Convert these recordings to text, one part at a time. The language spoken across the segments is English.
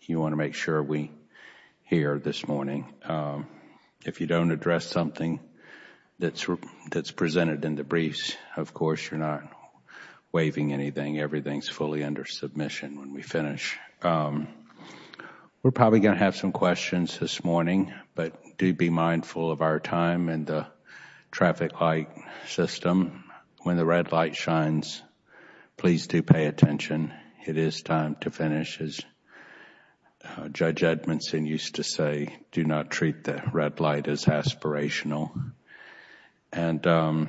You want to make sure we hear this morning. If you don't address something that's presented in the briefs, of course, you're not waiving anything. Everything's fully under submission when we finish. We're probably going to have some questions this morning, but do be mindful of our time and the traffic light system. When the red light shines, please do pay attention. It is time to finish, as Judge Edmondson used to say, do not treat the red light as aspirational. And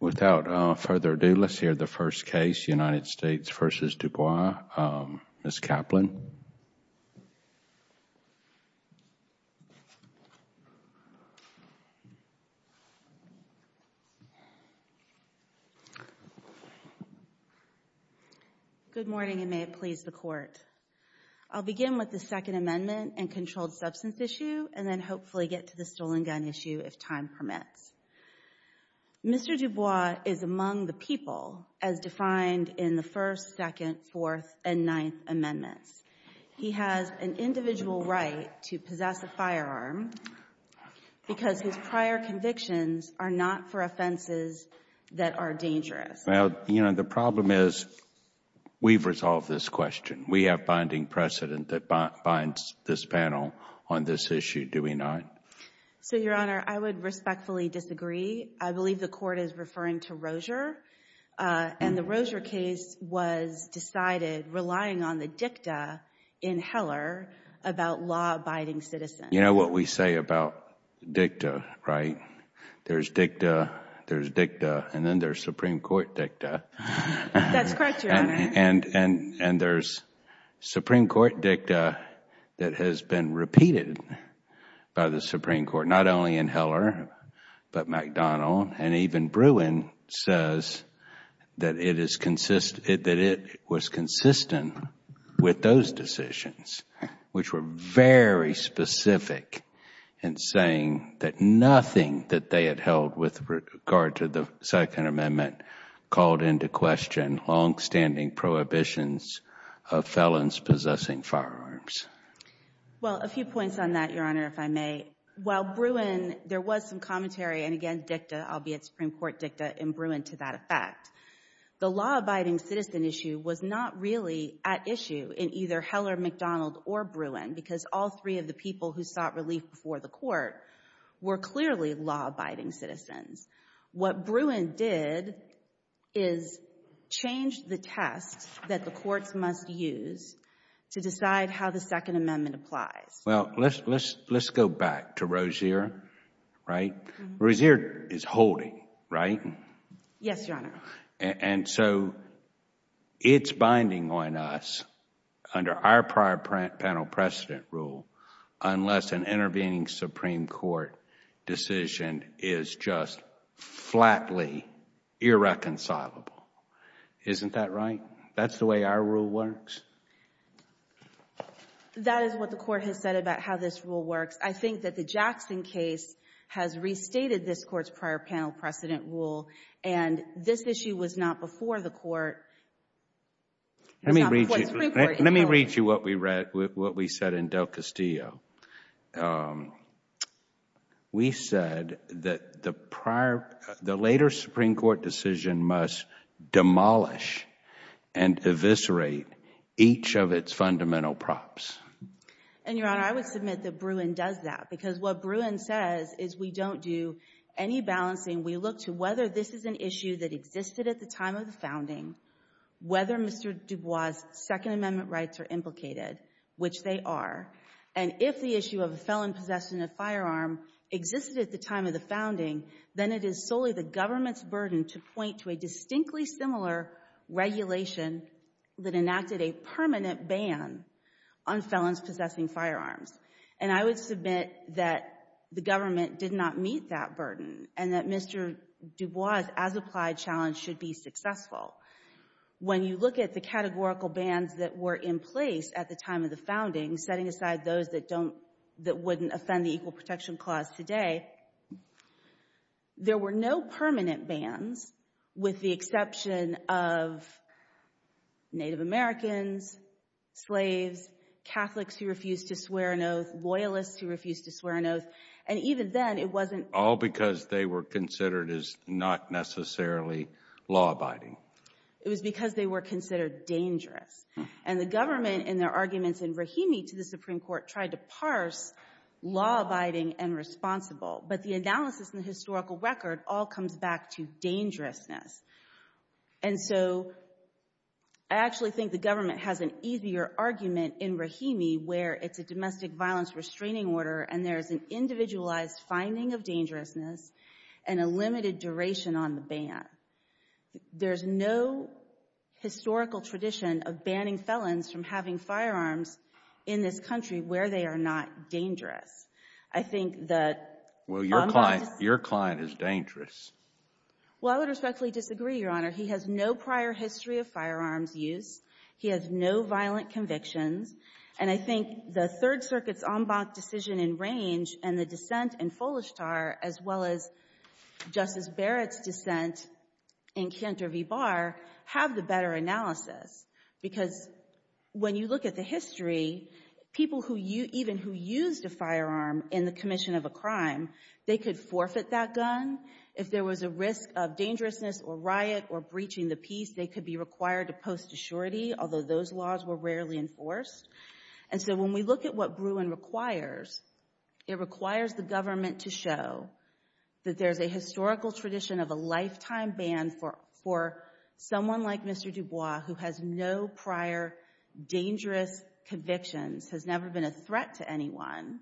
without further ado, let's hear the first case, United States v. Dubois. Ms. Kaplan. Good morning, and may it please the Court. I'll begin with the Second Amendment and controlled handgun issue, if time permits. Mr. Dubois is among the people, as defined in the First, Second, Fourth, and Ninth Amendments. He has an individual right to possess a firearm because his prior convictions are not for offenses that are dangerous. Well, you know, the problem is we've resolved this question. We have binding precedent that binds this panel on this issue, do we not? So, Your Honor, I would respectfully disagree. I believe the Court is referring to Rozier, and the Rozier case was decided relying on the dicta in Heller about law-abiding citizens. You know what we say about dicta, right? There's dicta, there's dicta, and then there's Supreme Court dicta. That's correct, Your Honor. And there's Supreme Court dicta that has been repeated by the Supreme Court, not only in Heller but McDonnell, and even Bruin says that it was consistent with those decisions, which were very specific in saying that nothing that they had held with regard to the Second Amendment called into question long-standing prohibitions of felons possessing firearms. Well, a few points on that, Your Honor, if I may. While Bruin, there was some commentary and again dicta, albeit Supreme Court dicta, in Bruin to that effect. The law-abiding citizen issue was not really at issue in either Heller, McDonnell, or Bruin because all three of the people who sought relief before the Court were clearly law-abiding citizens. What Bruin did is change the test that the courts must use to decide how the Second Amendment applies. Well, let's go back to Rozier, right? Rozier is holding, right? Yes, Your Honor. And so it's binding on us under our prior panel precedent rule unless an intervening Supreme Court decision is just flatly irreconcilable. Isn't that right? That's the way our rule works? That is what the Court has said about how this rule works. I think that the Jackson case has restated this Court's prior panel precedent rule and this issue was not before the Court. Let me read you what we said in Del Castillo. We said that the later Supreme Court decision must demolish and eviscerate each of its fundamental props. And Your Honor, I would submit that Bruin does that because what Bruin says is we don't do any balancing. We look to whether this is an issue that existed at the time of the founding, whether Mr. DuBois' Second Amendment rights are implicated, which they are. And if the issue of a felon possessing a firearm existed at the time of the founding, then it is solely the government's burden to point to a distinctly similar regulation that enacted a permanent ban on felons possessing firearms. And I would submit that the government did not meet that burden and that Mr. DuBois' as-applied challenge should be successful. When you look at the categorical bans that were in place at the time of the founding, setting aside those that wouldn't offend the Equal Protection Clause today, there were no permanent bans with the exception of Native Americans, slaves, Catholics who refused to swear an oath, loyalists who refused to swear an oath. And even then, it wasn't— All because they were considered as not necessarily law-abiding. It was because they were considered dangerous. And the government in their arguments in Rahimi to the Supreme Court tried to parse law-abiding and responsible. But the analysis in the historical record all comes back to dangerousness. And so I actually think the government has an easier argument in Rahimi where it's a domestic violence restraining order and there's an individualized finding of dangerousness and a limited duration on the ban. There's no historical tradition of banning felons from having firearms in this country where they are not dangerous. I think that— Well, your client—your client is dangerous. Well, I would respectfully disagree, Your Honor. He has no prior history of firearms use. He has no violent convictions. And I think the Third Circuit's Ombak decision in Range and the dissent in Folestar as well as Justice Barrett's dissent in Khyentr-Vibar have the better analysis. Because when you look at the history, people who—even who used a firearm in the commission of a crime, they could forfeit that gun. If there was a risk of dangerousness or riot or breaching the peace, they could be required to post a surety, although those laws were rarely enforced. And so when we look at what Bruin requires, it requires the government to show that there's a historical tradition of a lifetime ban for someone like Mr. DuBois who has no prior dangerous convictions, has never been a threat to anyone.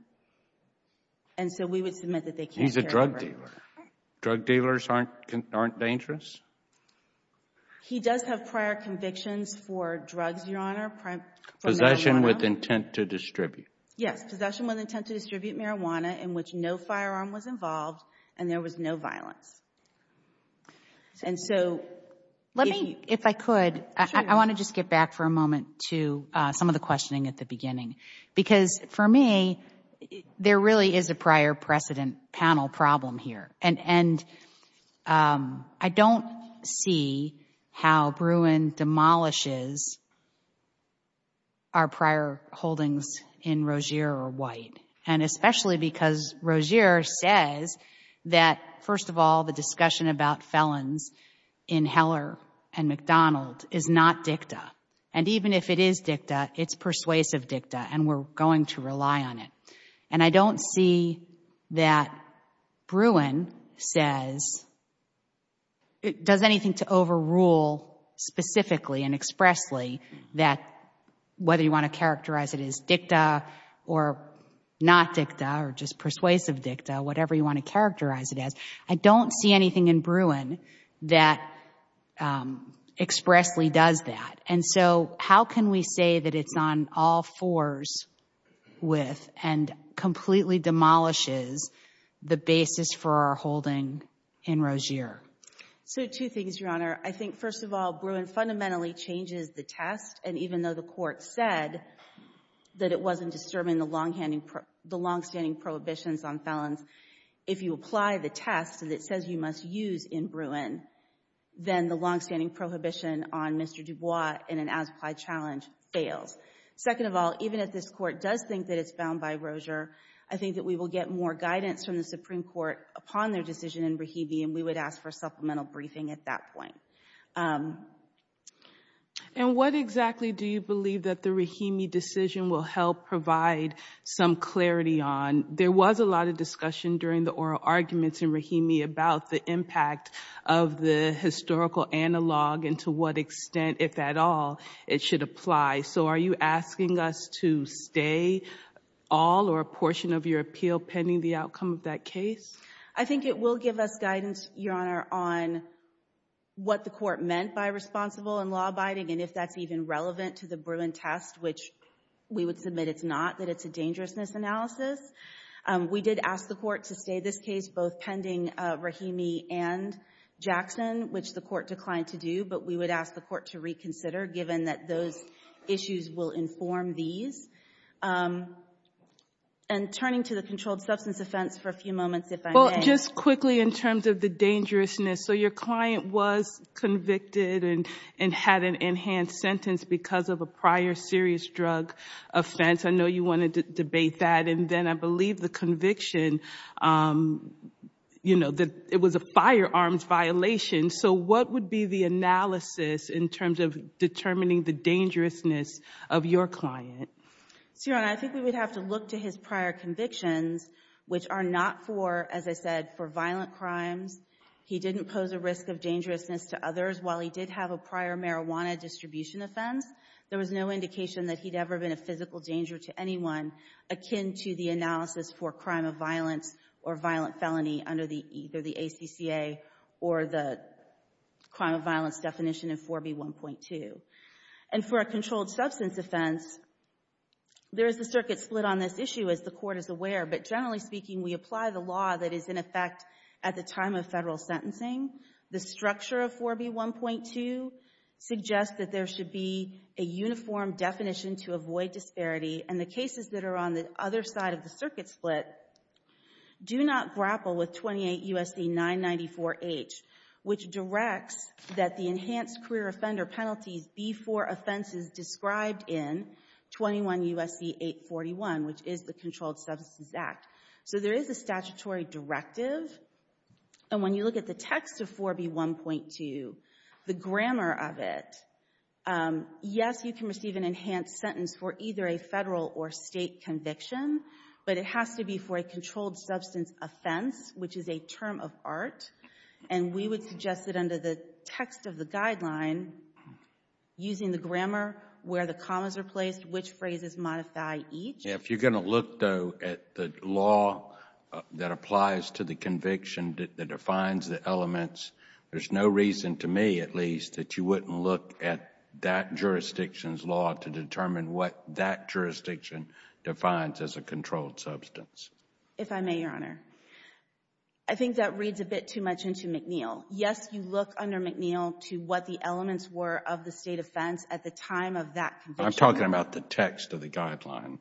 And so we would submit that they can't carry over. He's a drug dealer. Drug dealers aren't dangerous? He does have prior convictions for drugs, Your Honor, for marijuana. Possession with intent to distribute. Yes. Possession with intent to distribute marijuana in which no firearm was involved and there was no violence. And so— Let me, if I could, I want to just get back for a moment to some of the questioning at the beginning because for me, there really is a prior precedent panel problem here. And I don't see how Bruin demolishes our prior holdings in Rozier or White. And especially because Rozier says that, first of all, the discussion about felons in Heller and McDonald is not dicta. And even if it is dicta, it's persuasive dicta and we're going to rely on it. And I don't see that Bruin says—does anything to overrule specifically and expressly that whether you want to characterize it as dicta or not dicta or just persuasive dicta, whatever you want to characterize it as. I don't see anything in Bruin that expressly does that. And so how can we say that it's on all fours with and completely demolishes the basis for our holding in Rozier? So two things, Your Honor. I think, first of all, Bruin fundamentally changes the test. And even though the court said that it wasn't disturbing the long-standing prohibitions on felons, if you apply the test and it says you must use in Bruin, then the long-standing prohibition on Mr. Dubois in an as-applied challenge fails. Second of all, even if this Court does think that it's bound by Rozier, I think that we will get more guidance from the Supreme Court upon their decision in Rahimi and we would ask for supplemental briefing at that point. And what exactly do you believe that the Rahimi decision will help provide some clarity on? There was a lot of discussion during the oral arguments in Rahimi about the impact of the historical analog and to what extent, if at all, it should apply. So are you asking us to stay all or a portion of your appeal pending the outcome of that case? I think it will give us guidance, Your Honor, on what the court meant by responsible and law-abiding and if that's even relevant to the Bruin test, which we would submit it's not, that it's a dangerousness analysis. We did ask the court to stay this case both pending Rahimi and Jackson, which the court declined to do, but we would ask the court to reconsider given that those issues will inform these. And turning to the controlled substance offense for a few moments, if I may. Just quickly in terms of the dangerousness, so your client was convicted and had an enhanced sentence because of a prior serious drug offense. I know you wanted to debate that and then I believe the conviction, you know, that it was a firearms violation. So what would be the analysis in terms of determining the dangerousness of your client? So, Your Honor, I think we would have to look to his prior convictions, which are not for, as I said, for violent crimes. He didn't pose a risk of dangerousness to others. While he did have a prior marijuana distribution offense, there was no indication that he'd ever been a physical danger to anyone akin to the analysis for crime of violence or violent felony under either the ACCA or the crime of violence definition of 4B1.2. And for a controlled substance offense, there is a circuit split on this issue, as the court is aware. But generally speaking, we apply the law that is in effect at the time of federal sentencing. The structure of 4B1.2 suggests that there should be a uniform definition to avoid disparity and the cases that are on the other side of the circuit split do not grapple with 28 U.S.C. 994H, which directs that the enhanced career offender penalties be for offenses described in 21 U.S.C. 841, which is the Controlled Substances Act. So there is a statutory directive. And when you look at the text of 4B1.2, the grammar of it, yes, you can receive an enhanced sentence for either a federal or state conviction, but it has to be for a controlled substance offense, which is a term of art. And we would suggest that under the text of the guideline, using the grammar where the commas are placed, which phrases modify each. If you're going to look, though, at the law that applies to the conviction that defines the elements, there's no reason to me, at least, that you wouldn't look at that jurisdiction's law to determine what that jurisdiction defines as a controlled substance. If I may, Your Honor, I think that reads a bit too much into McNeil. Yes, you look under McNeil to what the elements were of the state offense at the time of that conviction. I'm talking about the text of the guideline,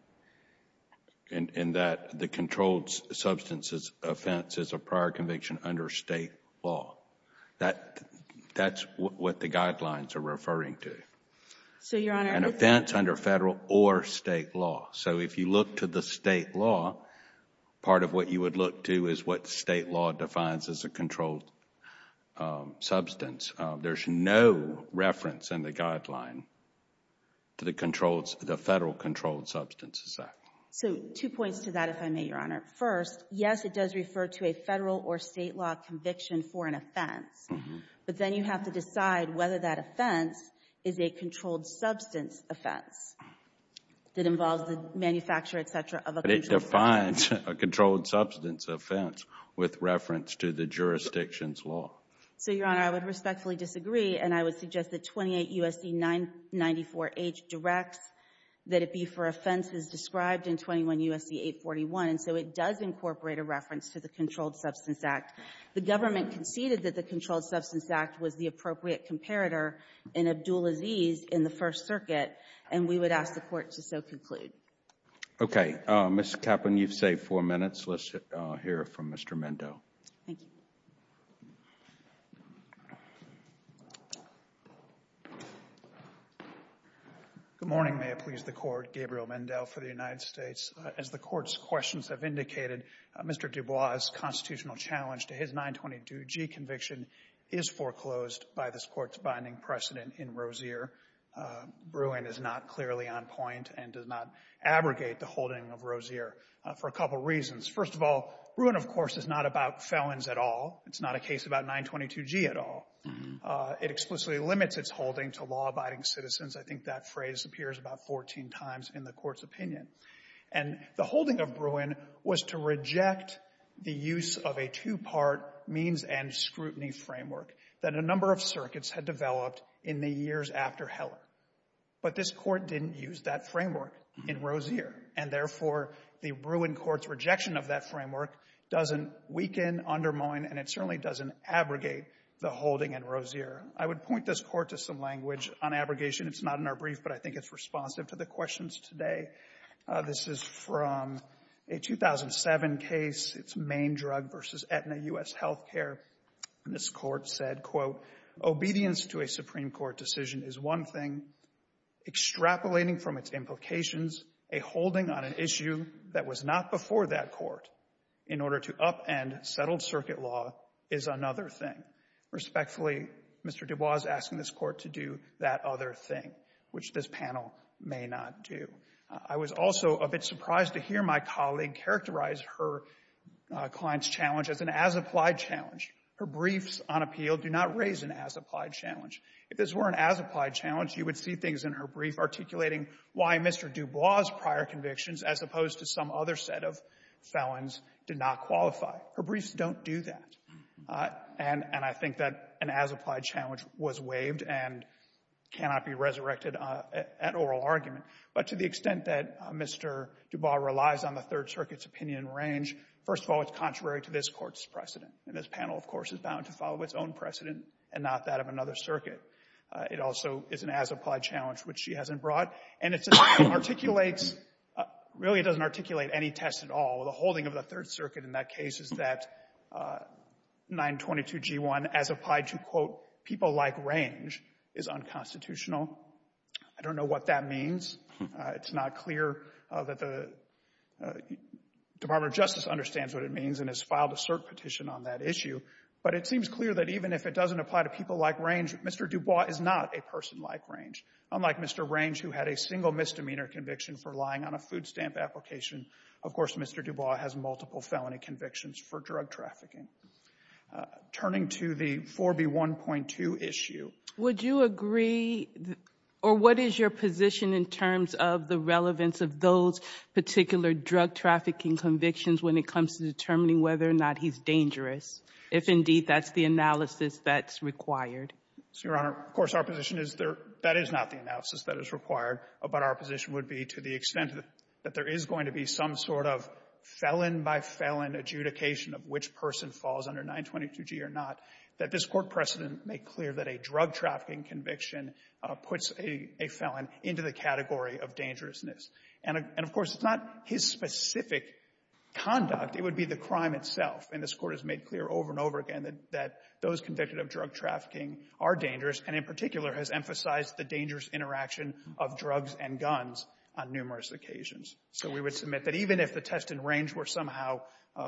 in that the controlled substance offense is a prior conviction under state law. That's what the guidelines are referring to, an offense under federal or state law. So if you look to the state law, part of what you would look to is what state law defines as a controlled substance. There's no reference in the guideline to the federal controlled substance. So two points to that, if I may, Your Honor. First, yes, it does refer to a federal or state law conviction for an offense, but then you have to decide whether that offense is a controlled substance offense that involves the manufacture, et cetera, of a controlled substance. But it defines a controlled substance offense with reference to the jurisdiction's law. So, Your Honor, I would respectfully disagree, and I would suggest that 28 U.S.C. 994H directs that it be for offenses described in 21 U.S.C. 841, so it does incorporate a reference to the Controlled Substance Act. The government conceded that the Controlled Substance Act was the appropriate comparator in Abdulaziz in the First Circuit, and we would ask the Court to so conclude. Okay. Ms. Kaplan, you've saved four minutes. Let's hear from Mr. Mendo. Thank you. Good morning. May it please the Court, Gabriel Mendo for the United States. As the Court's questions have indicated, Mr. DuBois' constitutional challenge to his 922G conviction is foreclosed by this Court's binding precedent in Rozier. Bruin is not clearly on point and does not abrogate the holding of Rozier for a couple of reasons. First of all, Bruin, of course, is not about felons at all. It's not a case about 922G at all. It explicitly limits its holding to law-abiding citizens. I think that phrase appears about 14 times in the Court's opinion. And the holding of Bruin was to reject the use of a two-part means and scrutiny framework that a number of circuits had developed in the years after Heller. But this Court didn't use that framework in Rozier, and therefore, the Bruin court's rejection of that framework doesn't weaken, undermine, and it certainly doesn't abrogate the holding in Rozier. I would point this Court to some language on abrogation. It's not in our brief, but I think it's responsive to the questions today. This is from a 2007 case. It's Main Drug v. Aetna U.S. Health Care, and this Court said, quote, Obedience to a Supreme Court decision is one thing, extrapolating from its implications a holding on an issue that was not before that court in order to upend settled circuit law is another thing. Respectfully, Mr. DuBois is asking this Court to do that other thing, which this panel may not do. I was also a bit surprised to hear my colleague characterize her client's challenge as an as-applied challenge. Her briefs on appeal do not raise an as-applied challenge. If this were an as-applied challenge, you would see things in her brief articulating why Mr. DuBois' prior convictions, as opposed to some other set of felons, did not qualify. Her briefs don't do that, and I think that an as-applied challenge was waived and cannot be resurrected at oral argument. But to the extent that Mr. DuBois relies on the Third Circuit's opinion range, first of all, it's contrary to this Court's precedent, and this panel, of course, is bound to follow its own precedent and not that of another circuit. It also is an as-applied challenge, which she hasn't brought. And it articulates — really, it doesn't articulate any test at all. The holding of the Third Circuit in that case is that 922G1, as applied to, quote, people like range, is unconstitutional. I don't know what that means. It's not clear that the Department of Justice understands what it means and has filed a cert petition on that issue. But it seems clear that even if it doesn't apply to people like range, Mr. DuBois is not a person like range. Unlike Mr. Range, who had a single misdemeanor conviction for lying on a food stamp application, of course, Mr. DuBois has multiple felony convictions for drug trafficking. Turning to the 4B1.2 issue. Would you agree, or what is your position in terms of the relevance of those particular drug trafficking convictions when it comes to determining whether or not he's dangerous? If, indeed, that's the analysis that's required. So, Your Honor, of course, our position is that is not the analysis that is required. But our position would be to the extent that there is going to be some sort of felon-by-felon adjudication of which person falls under 922G or not, that this Court precedent make clear that a drug trafficking conviction puts a felon into the category of dangerousness. And, of course, it's not his specific conduct. It would be the crime itself. And this Court has made clear over and over again that those convicted of drug trafficking are dangerous and, in particular, has emphasized the dangerous interaction of drugs and guns on numerous occasions. So we would submit that even if the test and range were somehow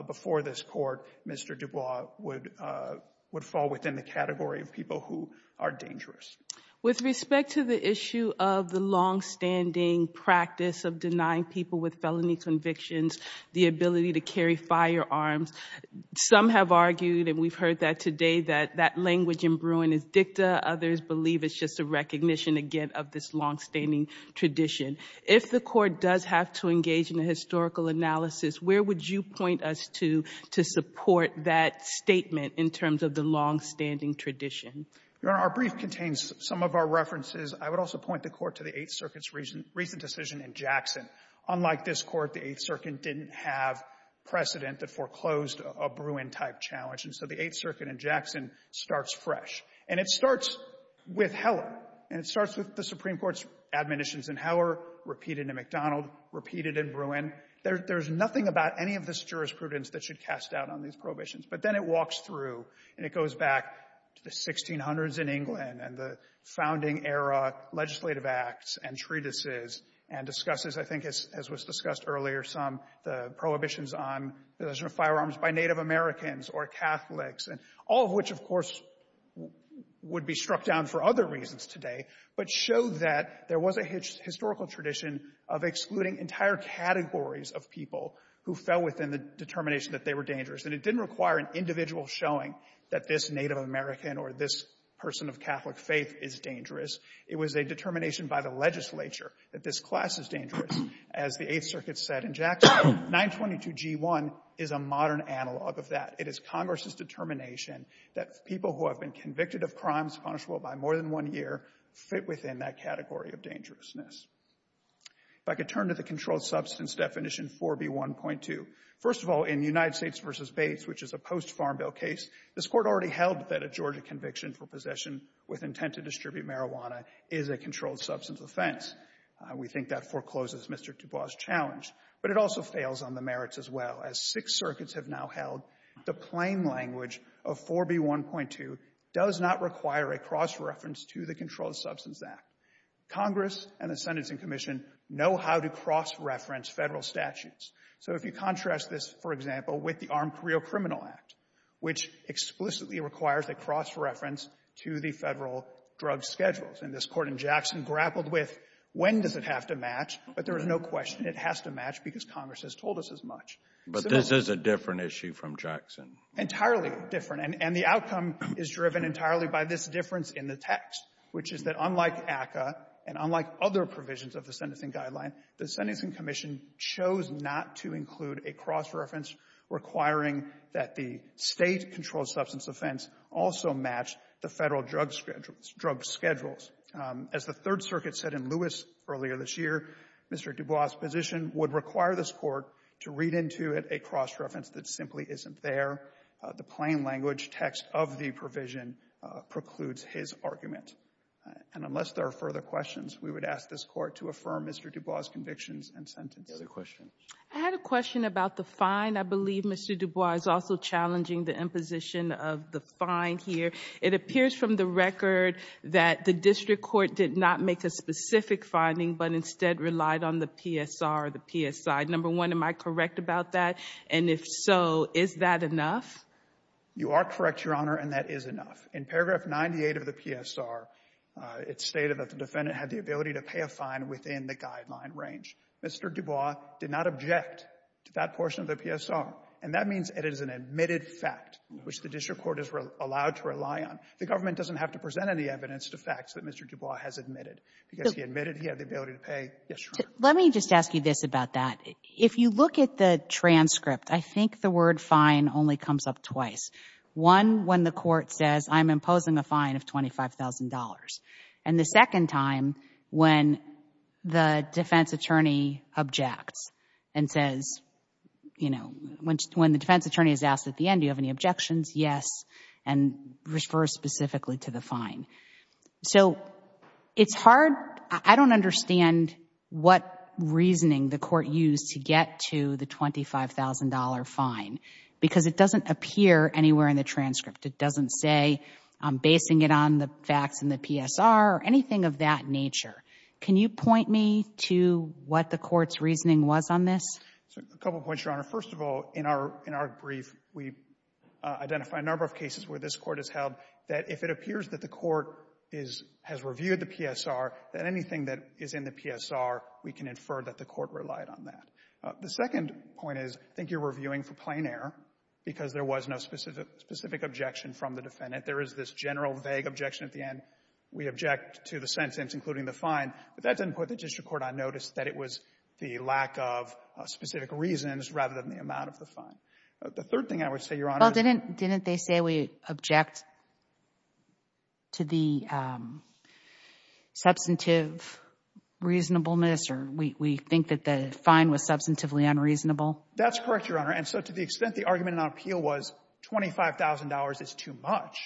before this Court, Mr. DuBois would fall within the category of people who are dangerous. With respect to the issue of the longstanding practice of denying people with felony convictions the ability to carry firearms, some have argued, and we've heard that today, that that language in Bruin is dicta. Others believe it's just a recognition, again, of this longstanding tradition. If the Court does have to engage in a historical analysis, where would you point us to to support that statement in terms of the longstanding tradition? Your Honor, our brief contains some of our references. I would also point the Court to the Eighth Circuit's recent decision in Jackson. Unlike this Court, the Eighth Circuit didn't have precedent that foreclosed a Bruin-type challenge. And so the Eighth Circuit in Jackson starts fresh. And it starts with Heller. And it starts with the Supreme Court's admonitions in Heller, repeated in McDonald, repeated in Bruin. There's nothing about any of this jurisprudence that should cast doubt on these prohibitions. But then it walks through and it goes back to the 1600s in England and the founding era legislative acts and treatises and discusses, I think, as was discussed earlier, some of the prohibitions on the possession of firearms by Native Americans or Catholics. And all of which, of course, would be struck down for other reasons today, but showed that there was a historical tradition of excluding entire categories of people who fell within the determination that they were dangerous. And it didn't require an individual showing that this Native American or this person of Catholic faith is dangerous. It was a determination by the legislature that this class is dangerous. As the Eighth Circuit said in Jackson, 922G1 is a modern analog of that. It is Congress's determination that people who have been convicted of crimes punishable by more than one year fit within that category of dangerousness. If I could turn to the controlled substance definition 4B1.2. First of all, in United States v. Bates, which is a post-farm bill case, this Court already held that a Georgia conviction for possession with intent to distribute marijuana is a controlled substance offense. We think that forecloses Mr. DuBois' challenge. But it also fails on the merits as well. As Sixth Circuit has now held, the plain language of 4B1.2 does not require a cross-reference to the Controlled Substance Act. Congress and the Sentencing Commission know how to cross-reference federal statutes. So if you contrast this, for example, with the Armed Career Criminal Act, which explicitly requires a cross-reference to the federal drug schedules, and this Court in Jackson grappled with when does it have to match, but there is no question it has to match because Congress has told us as much. But this is a different issue from Jackson. Entirely different. And the outcome is driven entirely by this difference in the text, which is that unlike ACCA and unlike other provisions of the Sentencing Guideline, the Sentencing Commission chose not to include a cross-reference requiring that the state controlled substance offense also match the federal drug schedules. As the Third Circuit said in Lewis earlier this year, Mr. DuBois' position would require this Court to read into it a cross-reference that simply isn't there. The plain language text of the provision precludes his argument. And unless there are further questions, we would ask this Court to affirm Mr. DuBois' convictions and sentences. Any other questions? I had a question about the fine. I believe Mr. DuBois is also challenging the imposition of the fine here. It appears from the record that the District Court did not make a specific finding but instead relied on the PSR or the PSI. Number one, am I correct about that? And if so, is that enough? You are correct, Your Honor, and that is enough. In paragraph 98 of the PSR, it stated that the defendant had the ability to pay a fine within the guideline range. Mr. DuBois did not object to that portion of the PSR, and that means it is an admitted fact which the District Court is allowed to rely on. The government doesn't have to present any evidence to facts that Mr. DuBois has admitted because he admitted he had the ability to pay. Yes, Your Honor. Let me just ask you this about that. If you look at the transcript, I think the word fine only comes up twice. One, when the Court says, I'm imposing a fine of $25,000. And the second time when the defense attorney objects and says, you know, when the defense attorney is asked at the end, do you have any objections? Yes, and refers specifically to the fine. So it's hard, I don't understand what reasoning the Court used to get to the $25,000 fine because it doesn't appear anywhere in the transcript. It doesn't say, I'm basing it on the facts in the PSR or anything of that nature. Can you point me to what the Court's reasoning was on this? So a couple of points, Your Honor. First of all, in our brief, we identify a number of cases where this Court has held that if it appears that the Court has reviewed the PSR, that anything that is in the PSR, we can infer that the Court relied on that. The second point is, I think you're reviewing for plain error because there was no specific objection from the defendant. There is this general vague objection at the end. We object to the sentence, including the fine. But that didn't put the district court on notice that it was the lack of specific reasons rather than the amount of the fine. The third thing I would say, Your Honor— Well, didn't they say we object to the substantive reasonableness or we think that the fine was substantively unreasonable? That's correct, Your Honor. So to the extent the argument on appeal was $25,000 is too much,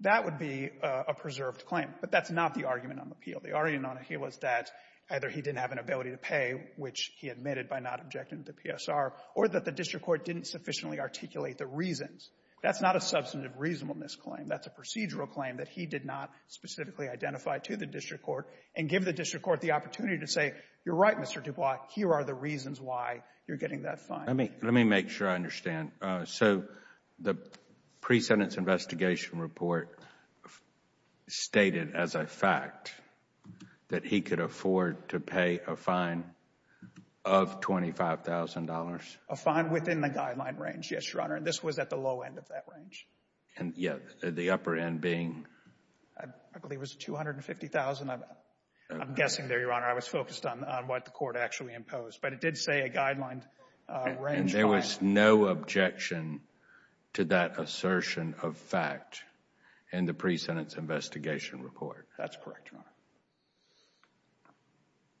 that would be a preserved claim. But that's not the argument on appeal. The argument on appeal is that either he didn't have an ability to pay, which he admitted by not objecting to the PSR, or that the district court didn't sufficiently articulate the reasons. That's not a substantive reasonableness claim. That's a procedural claim that he did not specifically identify to the district court and give the district court the opportunity to say, you're right, Mr. Dubois, here are the reasons why you're getting that fine. Let me make sure I understand. So the pre-sentence investigation report stated as a fact that he could afford to pay a fine of $25,000? A fine within the guideline range, yes, Your Honor. And this was at the low end of that range. And the upper end being? I believe it was $250,000. I'm guessing there, Your Honor. I was focused on what the court actually imposed. But it did say a guideline range. And there was no objection to that assertion of fact in the pre-sentence investigation report? That's correct, Your Honor.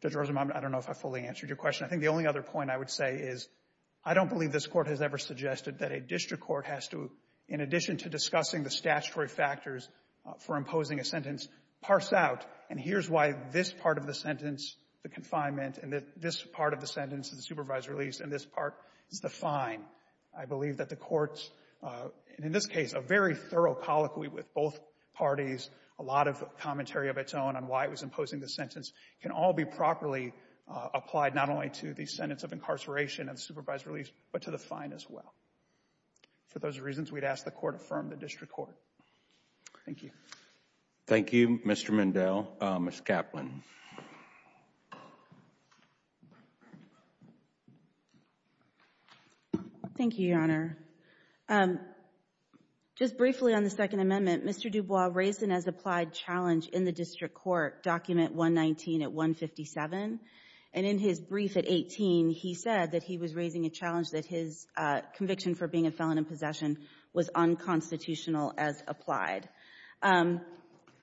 Judge Rosenbaum, I don't know if I fully answered your question. I think the only other point I would say is I don't believe this court has ever suggested that a district court has to, in addition to discussing the statutory factors for imposing a sentence, parse out, and here's why this part of the sentence, the confinement, and this part of the sentence, the supervised release, and this part is the fine. I believe that the court's, in this case, a very thorough colloquy with both parties, a lot of commentary of its own on why it was imposing the sentence, can all be properly applied not only to the sentence of incarceration and supervised release, but to the fine as well. For those reasons, we'd ask the court affirm the district court. Thank you. Thank you, Mr. Mendell. Ms. Kaplan. Thank you, Your Honor. Just briefly on the Second Amendment, Mr. Dubois raised an as-applied challenge in the district court, document 119 at 157, and in his brief at 18, he said that he was raising a challenge that his conviction for being a felon in possession was unconstitutional as applied.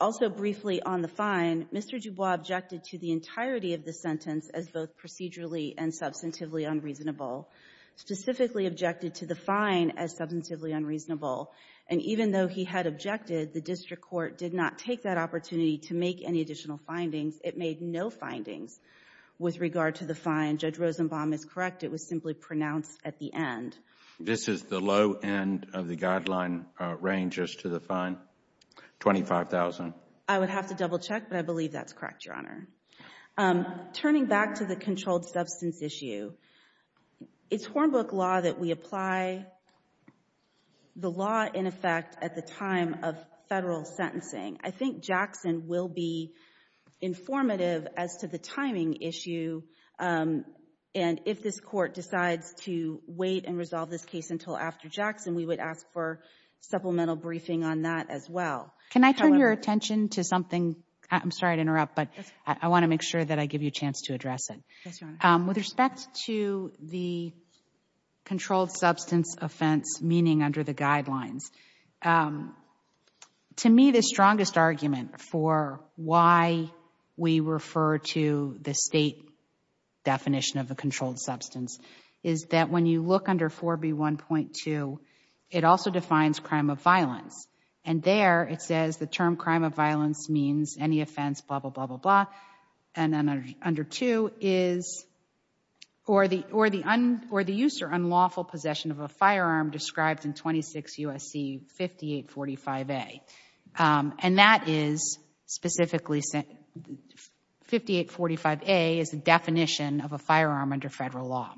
Also, briefly on the fine, Mr. Dubois objected to the entirety of the sentence as both procedurally and substantively unreasonable, specifically objected to the fine as substantively unreasonable, and even though he had objected, the district court did not take that opportunity to make any additional findings. It made no findings with regard to the fine. Judge Rosenbaum is correct. It was simply pronounced at the end. This is the low end of the guideline range as to the fine, $25,000. I would have to double-check, but I believe that's correct, Your Honor. Turning back to the controlled substance issue, it's Hornbook law that we apply the law in effect at the time of federal sentencing. I think Jackson will be informative as to the timing issue, and if this court decides to wait and resolve this case until after Jackson, we would ask for supplemental briefing on that as well. Can I turn your attention to something? I'm sorry to interrupt, but I want to make sure that I give you a chance to address it. With respect to the controlled substance offense meaning under the guidelines, to me, the strongest argument for why we refer to the state definition of a controlled substance is that when you look under 4B1.2, it also defines crime of violence, and there it says the term crime of violence means any offense, blah, blah, blah, blah, blah, and then under 2 is or the use or unlawful possession of a firearm described in 26 U.S.C. 5845A, and that is specifically 5845A is the definition of a firearm under federal law.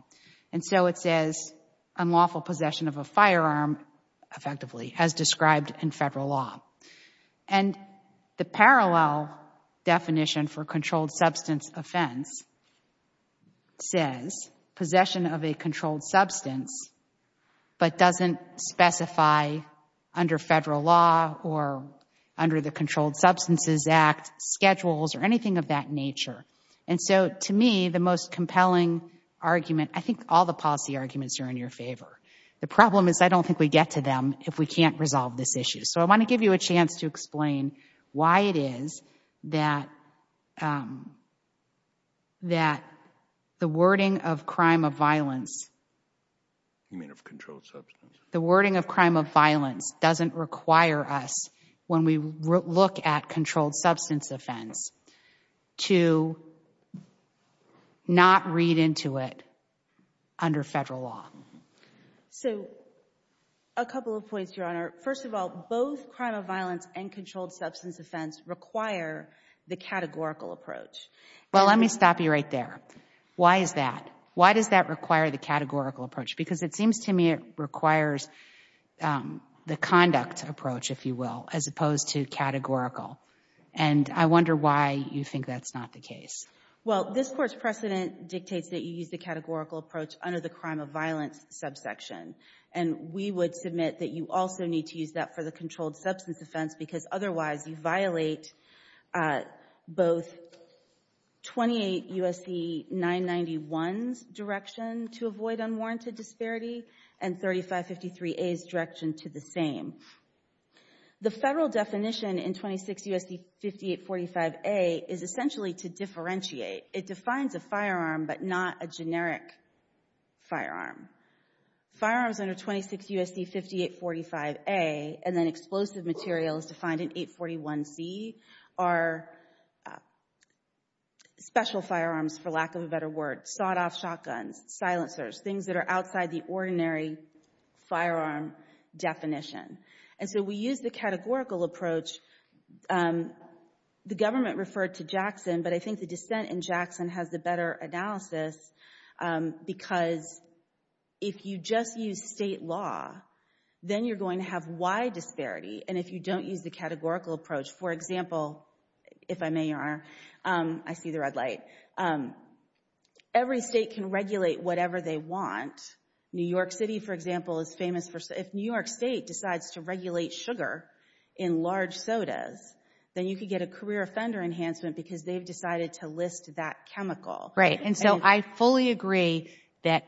It says unlawful possession of a firearm effectively as described in federal law. The parallel definition for controlled substance offense says possession of a controlled substance but doesn't specify under federal law or under the Controlled Substances Act schedules or anything of that nature. To me, the most compelling argument, I think all the policy arguments are in your favor. The problem is I don't think we get to them if we can't resolve this issue. I want to give you a chance to explain why it is that the wording of crime of violence doesn't require us when we look at controlled substance offense to not read into it under federal law. So a couple of points, Your Honor. First of all, both crime of violence and controlled substance offense require the categorical approach. Well, let me stop you right there. Why is that? Why does that require the categorical approach? Because it seems to me it requires the conduct approach, if you will, as opposed to categorical. And I wonder why you think that's not the case. Well, this Court's precedent dictates that you use the categorical approach under the crime of violence subsection. And we would submit that you also need to use that for the controlled substance offense because otherwise you violate both 28 U.S.C. 991's direction to avoid unwarranted disparity and 3553A's direction to the same. The federal definition in 26 U.S.C. 5845A is essentially to differentiate. It defines a firearm but not a generic firearm. Firearms under 26 U.S.C. 5845A and then explosive materials defined in 841C are special firearms, for lack of a better word. Sawed-off shotguns, silencers, things that are outside the ordinary firearm definition. And so we use the categorical approach. The government referred to Jackson, but I think the dissent in Jackson has the better analysis because if you just use state law, then you're going to have wide disparity. And if you don't use the categorical approach, for example, if I may, Your Honor, I see the red light. Every state can regulate whatever they want. New York City, for example, is famous for... If New York State decides to regulate sugar in large sodas, then you could get a career offender enhancement because they've decided to list that chemical. Right. And so I fully agree that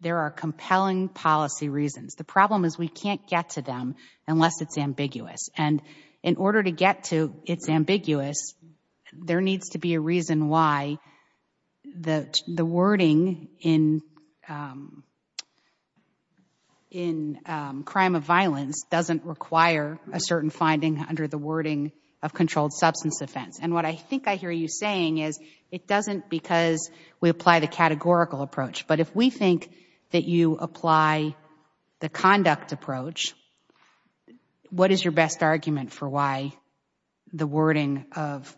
there are compelling policy reasons. The problem is we can't get to them unless it's ambiguous. And in order to get to it's ambiguous, there needs to be a reason why the wording in crime of violence doesn't require a certain finding under the wording of controlled substance offense. And what I think I hear you saying is it doesn't because we apply the categorical approach. But if we think that you apply the conduct approach, what is your best argument for why the wording of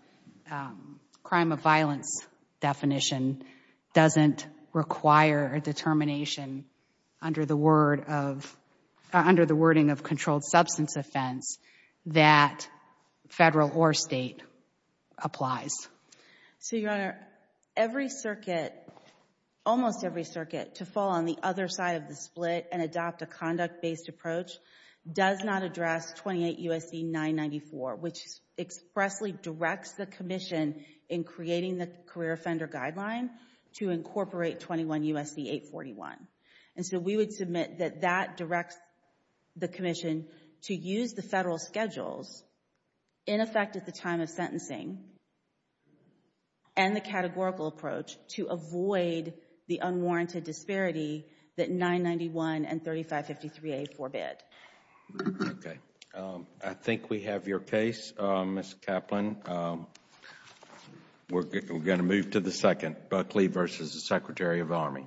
crime of violence definition doesn't require a determination under the wording of controlled substance offense that federal or state applies? So, Your Honor, every circuit, almost every circuit to fall on the other side of the split and adopt a conduct-based approach does not address 28 U.S.C. 994, which expressly directs the commission in creating the career offender guideline to incorporate 21 U.S.C. 841. And so we would submit that that directs the commission to use the federal schedules in effect at the time of sentencing and the categorical approach to avoid the unwarranted disparity that 991 and 3553A forbid. Okay. I think we have your case, Ms. Kaplan. We're going to move to the second, Buckley versus the Secretary of Army. Thank you.